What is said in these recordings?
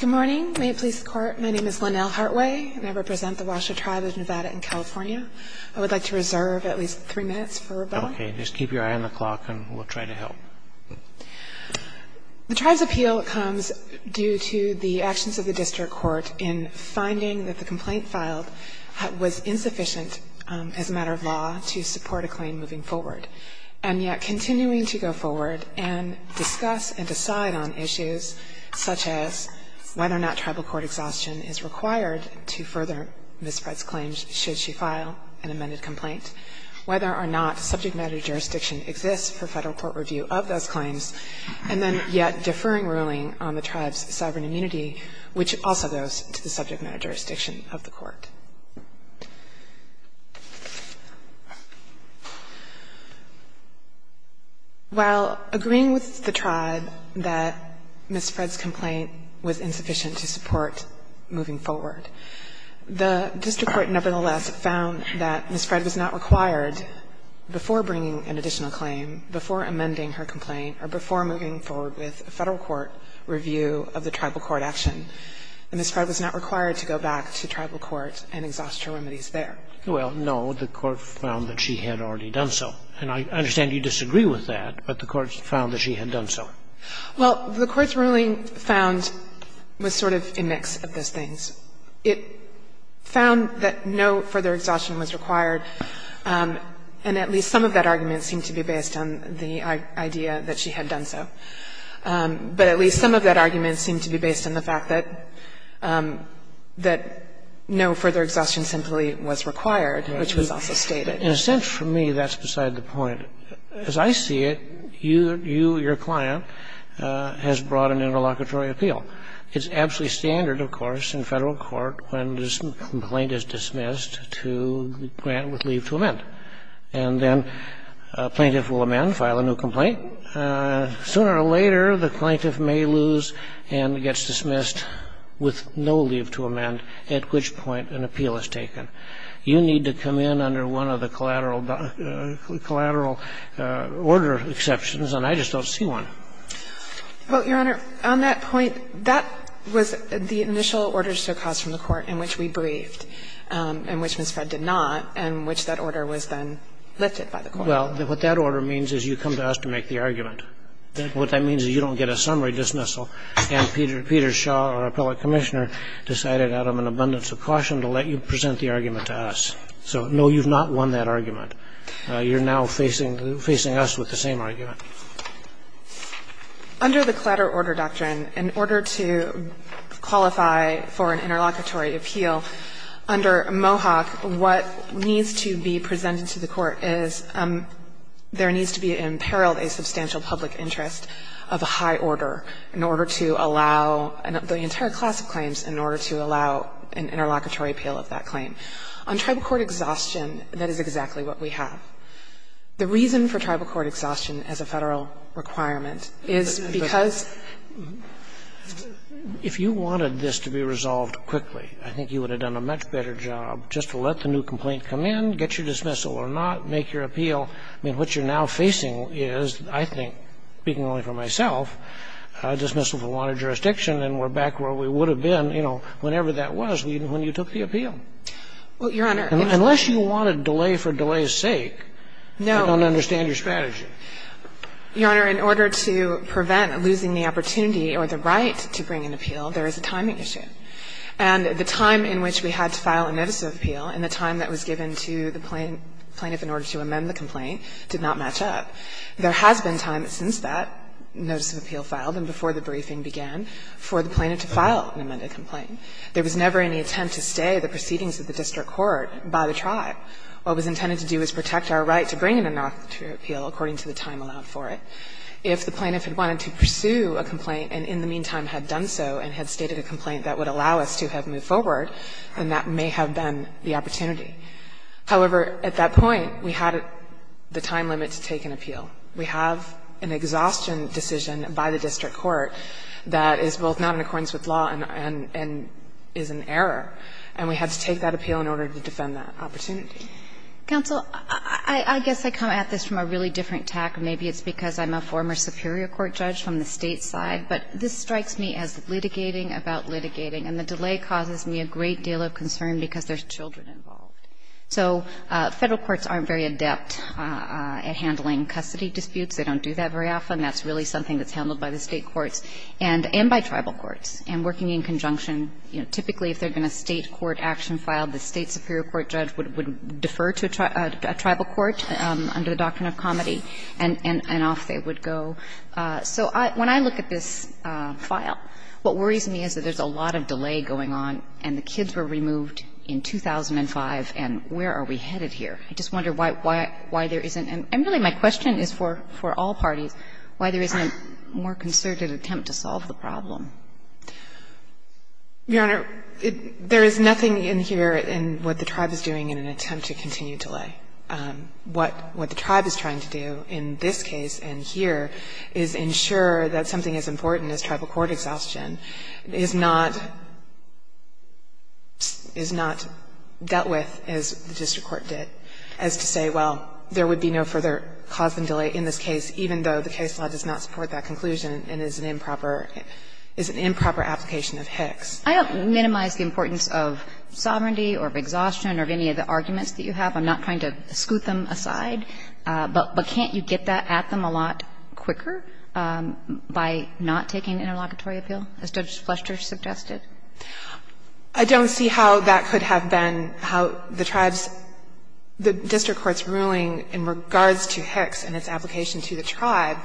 Good morning. May it please the Court, my name is Lynnell Hartway and I represent the Washoe Tribe of Nevada and California. I would like to reserve at least three minutes for rebuttal. Okay, just keep your eye on the clock and we'll try to help. The Tribe's appeal comes due to the actions of the District Court in finding that the complaint filed was insufficient as a matter of law to support a claim moving forward. And yet continuing to go forward and discuss and decide on issues such as whether or not tribal court exhaustion is required to further Ms. Fred's claims should she file an amended complaint, whether or not subject matter jurisdiction exists for federal court review of those claims, and then yet deferring ruling on the Tribe's sovereign immunity, which also goes to the subject matter jurisdiction of the court. While agreeing with the Tribe that Ms. Fred's complaint was insufficient to support moving forward, the District Court nevertheless found that Ms. Fred was not required, before bringing an additional claim, before amending her complaint, or before moving forward with a federal court review of the tribal court action, that Ms. Fred was not required to go back to tribal court and exhaust her remedies there. Well, no, the court found that she had already done so. And I understand you disagree with that, but the court found that she had done so. Well, the Court's ruling found was sort of a mix of those things. It found that no further exhaustion was required, and at least some of that argument seemed to be based on the idea that she had done so. But at least some of that argument seemed to be based on the fact that no further exhaustion simply was required, which was also stated. In a sense, for me, that's beside the point. As I see it, you, your client, has brought an interlocutory appeal. It's absolutely standard, of course, in Federal court when the complaint is dismissed to grant with leave to amend. And then a plaintiff will amend, file a new complaint. Sooner or later, the plaintiff may lose and gets dismissed with no leave to amend, at which point an appeal is taken. You need to come in under one of the collateral order exceptions, and I just don't see one. Well, Your Honor, on that point, that was the initial order still caused from the interlocutory appeal, and that was then lifted by the court. Well, what that order means is you come to us to make the argument. What that means is you don't get a summary dismissal, and Peter Shaw, our appellate commissioner, decided out of an abundance of caution to let you present the argument to us. So, no, you've not won that argument. You're now facing us with the same argument. Under the collateral order doctrine, in order to qualify for an interlocutory appeal, under Mohawk, what needs to be presented to the court is there needs to be imperiled a substantial public interest of a high order in order to allow the entire class of claims in order to allow an interlocutory appeal of that claim. On tribal court exhaustion, that is exactly what we have. The reason for tribal court exhaustion as a Federal requirement is because of the I think you would have done a much better job just to let the new complaint come in, get your dismissal, or not make your appeal. I mean, what you're now facing is, I think, speaking only for myself, a dismissal for wanted jurisdiction, and we're back where we would have been, you know, whenever that was, even when you took the appeal. Well, Your Honor, if you want to delay for delay's sake, I don't understand your strategy. Your Honor, in order to prevent losing the opportunity or the right to bring an appeal, there is a timing issue. And the time in which we had to file a notice of appeal and the time that was given to the plaintiff in order to amend the complaint did not match up. There has been time since that notice of appeal filed and before the briefing began for the plaintiff to file an amended complaint. There was never any attempt to stay the proceedings of the district court by the tribe. What was intended to do is protect our right to bring in a notice of appeal according to the time allowed for it. If the plaintiff had wanted to pursue a complaint and in the meantime had done so and had stated a complaint that would allow us to have moved forward, then that may have been the opportunity. However, at that point, we had the time limit to take an appeal. We have an exhaustion decision by the district court that is both not in accordance with law and is an error, and we had to take that appeal in order to defend that complaint. Counsel, I guess I come at this from a really different tack, and maybe it's because I'm a former superior court judge from the State side, but this strikes me as litigating about litigating, and the delay causes me a great deal of concern because there's children involved. So Federal courts aren't very adept at handling custody disputes. They don't do that very often. That's really something that's handled by the State courts and by tribal courts. And working in conjunction, you know, typically if there had been a State court action filed, the State superior court judge would defer to a tribal court under the doctrine of comity, and off they would go. So when I look at this file, what worries me is that there's a lot of delay going on, and the kids were removed in 2005, and where are we headed here? I just wonder why there isn't an – and really my question is for all parties why there isn't a more concerted attempt to solve the problem. Your Honor, there is nothing in here in what the tribe is doing in an attempt to continue delay. What the tribe is trying to do in this case and here is ensure that something as important as tribal court exhaustion is not dealt with as the district court did, as to say, well, there would be no further cause than delay in this case, even though the case law does not support that conclusion and is an improper – is an improper application of Hicks. I don't minimize the importance of sovereignty or of exhaustion or of any of the arguments that you have. I'm not trying to scoot them aside. But can't you get that at them a lot quicker by not taking an interlocutory appeal, as Judge Flesher suggested? I don't see how that could have been how the tribe's – the district court's in regards to Hicks and its application to the tribe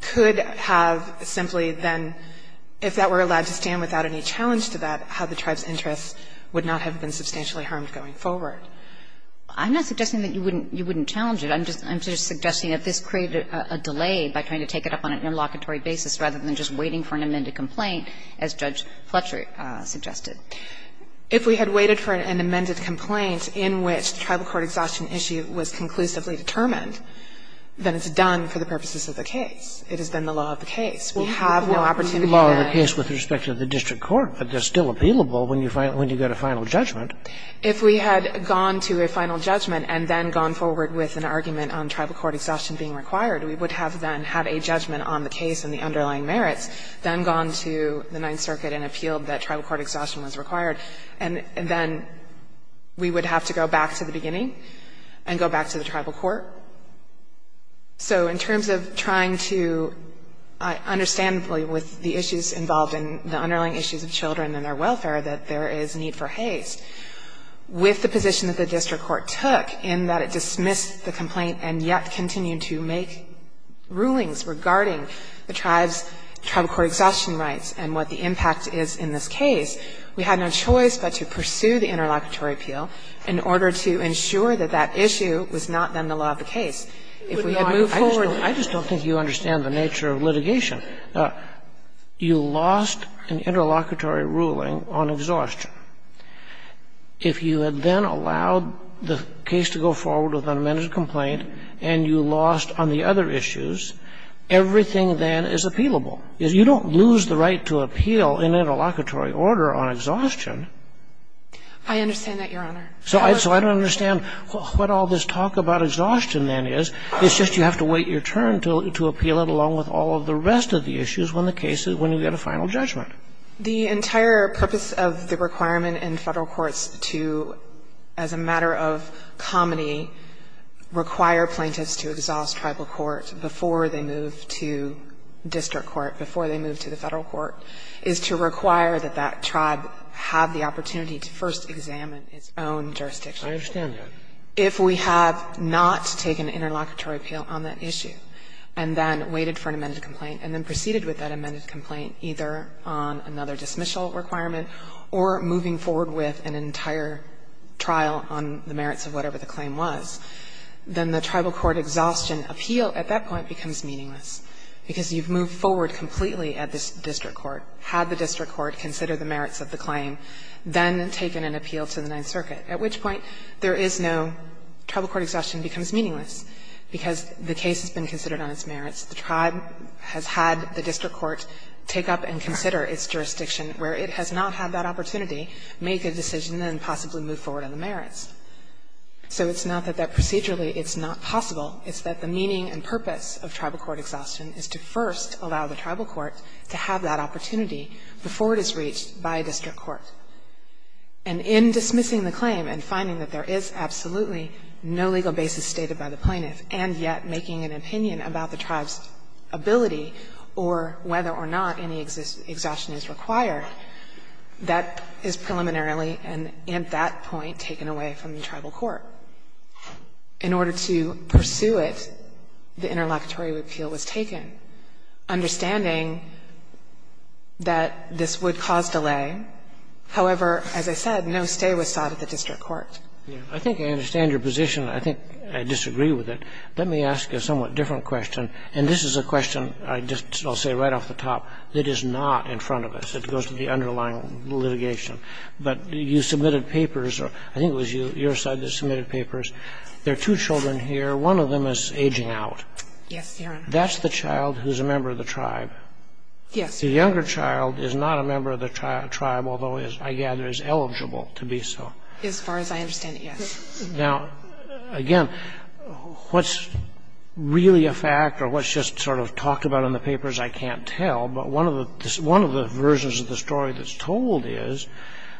could have simply then, if that were allowed to stand without any challenge to that, how the tribe's interests would not have been substantially harmed going forward. I'm not suggesting that you wouldn't – you wouldn't challenge it. I'm just – I'm just suggesting that this created a delay by trying to take it up on an interlocutory basis rather than just waiting for an amended complaint as Judge Flesher suggested. If we had waited for an amended complaint in which the tribal court exhaustion issue was conclusively determined, then it's done for the purposes of the case. It has been the law of the case. We have no opportunity to then – Well, it's the law of the case with respect to the district court, but it's still appealable when you – when you get a final judgment. If we had gone to a final judgment and then gone forward with an argument on tribal court exhaustion being required, we would have then had a judgment on the case and the underlying merits, then gone to the Ninth Circuit and appealed that tribal court exhaustion was required, and then we would have to go back to the beginning and go back to the tribal court. So in terms of trying to understandably, with the issues involved in the underlying issues of children and their welfare, that there is need for haste, with the position that the district court took in that it dismissed the complaint and yet continued to make rulings regarding the tribe's tribal court exhaustion rights and what the impact is in this case, we had no choice but to pursue the interlocutory appeal in order to ensure that that issue was not, then, the law of the case. If we had moved forward – I just don't – I just don't think you understand the nature of litigation. You lost an interlocutory ruling on exhaustion. If you had then allowed the case to go forward with an amended complaint and you lost on the other issues, everything then is appealable. You don't lose the right to appeal in interlocutory order on exhaustion. I understand that, Your Honor. So I don't understand what all this talk about exhaustion then is. It's just you have to wait your turn to appeal it along with all of the rest of the issues when the case is – when you get a final judgment. The entire purpose of the requirement in Federal courts to, as a matter of comedy, require plaintiffs to exhaust tribal court before they move to district court, before they move to the Federal court, is to require that that tribe have the opportunity to first examine its own jurisdiction. I understand that. If we have not taken interlocutory appeal on that issue and then waited for an amended complaint and then proceeded with that amended complaint either on another dismissal requirement or moving forward with an entire trial on the merits of whatever the claim was, then the tribal court exhaustion appeal at that point becomes meaningless because you've moved forward completely at this district court, had the district court consider the merits of the claim, then taken an appeal to the Ninth Circuit, at which point there is no – tribal court exhaustion becomes meaningless because the case has been considered on its merits. The tribe has had the district court take up and consider its jurisdiction where it has not had that opportunity, make a decision and possibly move forward on the merits. So it's not that procedurally it's not possible. It's that the meaning and purpose of tribal court exhaustion is to first allow the tribal court to have that opportunity before it is reached by a district court. And in dismissing the claim and finding that there is absolutely no legal basis stated by the plaintiff, and yet making an opinion about the tribe's ability or whether or not any exhaustion is required, that is preliminarily and at that point taken away from the tribal court. In order to pursue it, the interlocutory appeal was taken, understanding that this would cause delay. However, as I said, no stay was sought at the district court. I think I understand your position. I think I disagree with it. Let me ask a somewhat different question. And this is a question I just will say right off the top that is not in front of us. It goes to the underlying litigation. But you submitted papers, or I think it was your side that submitted papers. There are two children here. One of them is aging out. Yes, Your Honor. That's the child who's a member of the tribe. Yes. The younger child is not a member of the tribe, although I gather is eligible to be so. As far as I understand it, yes. Now, again, what's really a fact or what's just sort of talked about in the papers, I can't tell. But one of the versions of the story that's told is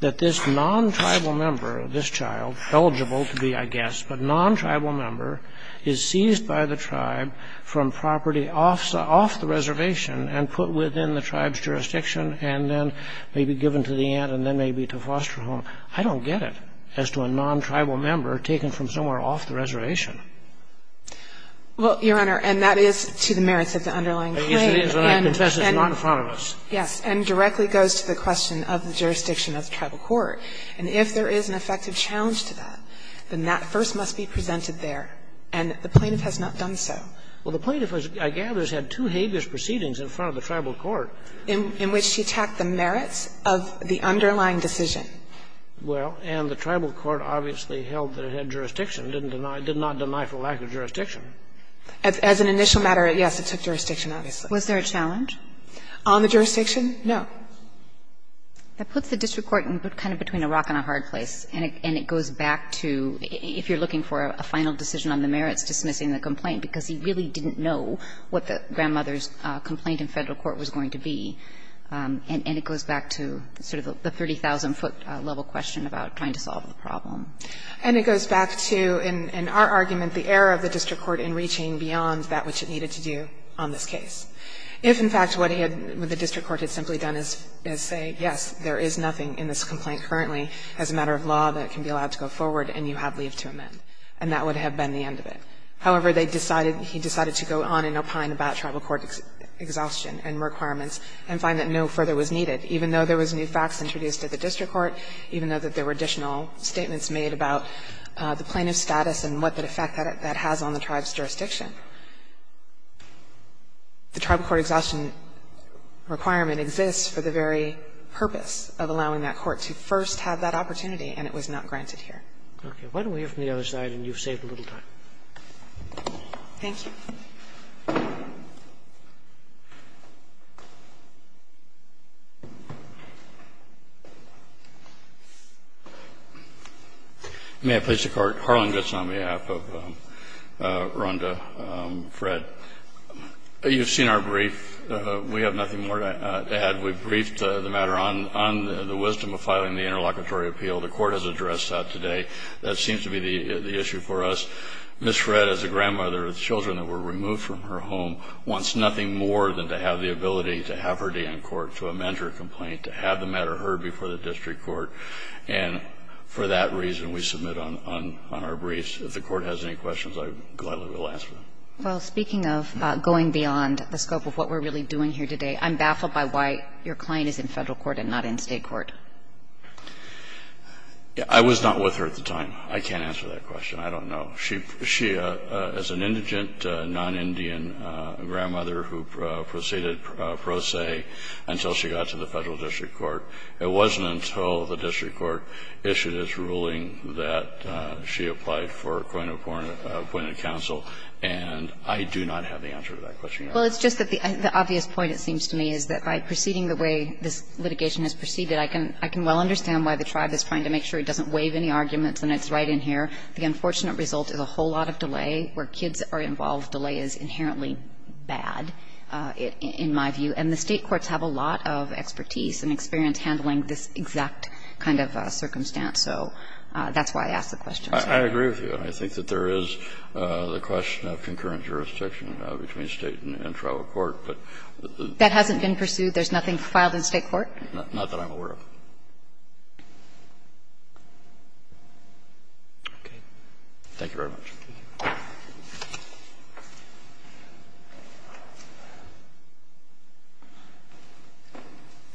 that this non-tribal member, this child, eligible to be, I guess, but non-tribal member is seized by the tribe from property off the reservation and put within the tribe's jurisdiction and then may be given to the aunt and then may be to foster home. I don't get it as to a non-tribal member taken from somewhere off the reservation. Well, Your Honor, and that is to the merits of the underlying claim. Yes, it is, and I confess it's not in front of us. Yes, and directly goes to the question of the jurisdiction of the tribal court. And if there is an effective challenge to that, then that first must be presented there, and the plaintiff has not done so. Well, the plaintiff, I gather, has had two habeas proceedings in front of the tribal court. In which she attacked the merits of the underlying decision. Well, and the tribal court obviously held that it had jurisdiction, didn't deny or did not deny for lack of jurisdiction. As an initial matter, yes, it took jurisdiction, obviously. Was there a challenge? On the jurisdiction, no. That puts the district court in kind of between a rock and a hard place. And it goes back to, if you're looking for a final decision on the merits, dismissing the complaint, because he really didn't know what the grandmother's complaint in Federal court was going to be. And it goes back to sort of the 30,000-foot level question about trying to solve the problem. And it goes back to, in our argument, the error of the district court in reaching beyond that which it needed to do on this case. If, in fact, what he had the district court had simply done is say, yes, there is nothing in this complaint currently as a matter of law that can be allowed to go forward and you have leave to amend. And that would have been the end of it. However, they decided, he decided to go on and opine about tribal court exhaustion and requirements and find that no further was needed, even though there was new facts introduced at the district court, even though that there were additional statements made about the plaintiff's status and what effect that has on the tribe's jurisdiction. The tribal court exhaustion requirement exists for the very purpose of allowing that court to first have that opportunity, and it was not granted here. Roberts. Why don't we hear from the other side, and you've saved a little time. Thank you. May I please record, Harland, that it's on behalf of Rhonda, I'm sorry. Fred, you've seen our brief. We have nothing more to add. We've briefed the matter on the wisdom of filing the interlocutory appeal. The court has addressed that today. That seems to be the issue for us. Ms. Fred, as a grandmother with children that were removed from her home, wants nothing more than to have the ability to have her day in court to amend her complaint, to have the matter heard before the district court. And for that reason, we submit on our briefs. If the court has any questions, I gladly will answer them. Well, speaking of going beyond the scope of what we're really doing here today, I'm baffled by why your client is in Federal court and not in State court. I was not with her at the time. I can't answer that question. I don't know. She, as an indigent, non-Indian grandmother who proceeded pro se until she got to the Federal district court, it wasn't until the district court issued its ruling that she applied for appointed counsel. And I do not have the answer to that question. Well, it's just that the obvious point, it seems to me, is that by proceeding the way this litigation has proceeded, I can well understand why the tribe is trying to make sure it doesn't waive any arguments, and it's right in here. The unfortunate result is a whole lot of delay. Where kids are involved, delay is inherently bad, in my view. And the State courts have a lot of expertise and experience handling this exact kind of circumstance. So that's why I asked the question. I agree with you. I think that there is the question of concurrent jurisdiction between State and tribal court, but the the That hasn't been pursued? There's nothing filed in State court? Not that I'm aware of. Thank you very much.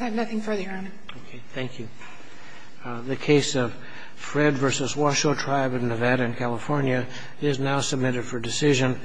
I have nothing further, Your Honor. Okay. Thank you. The case of Fred versus Washoe Tribe in Nevada and California is now submitted for decision.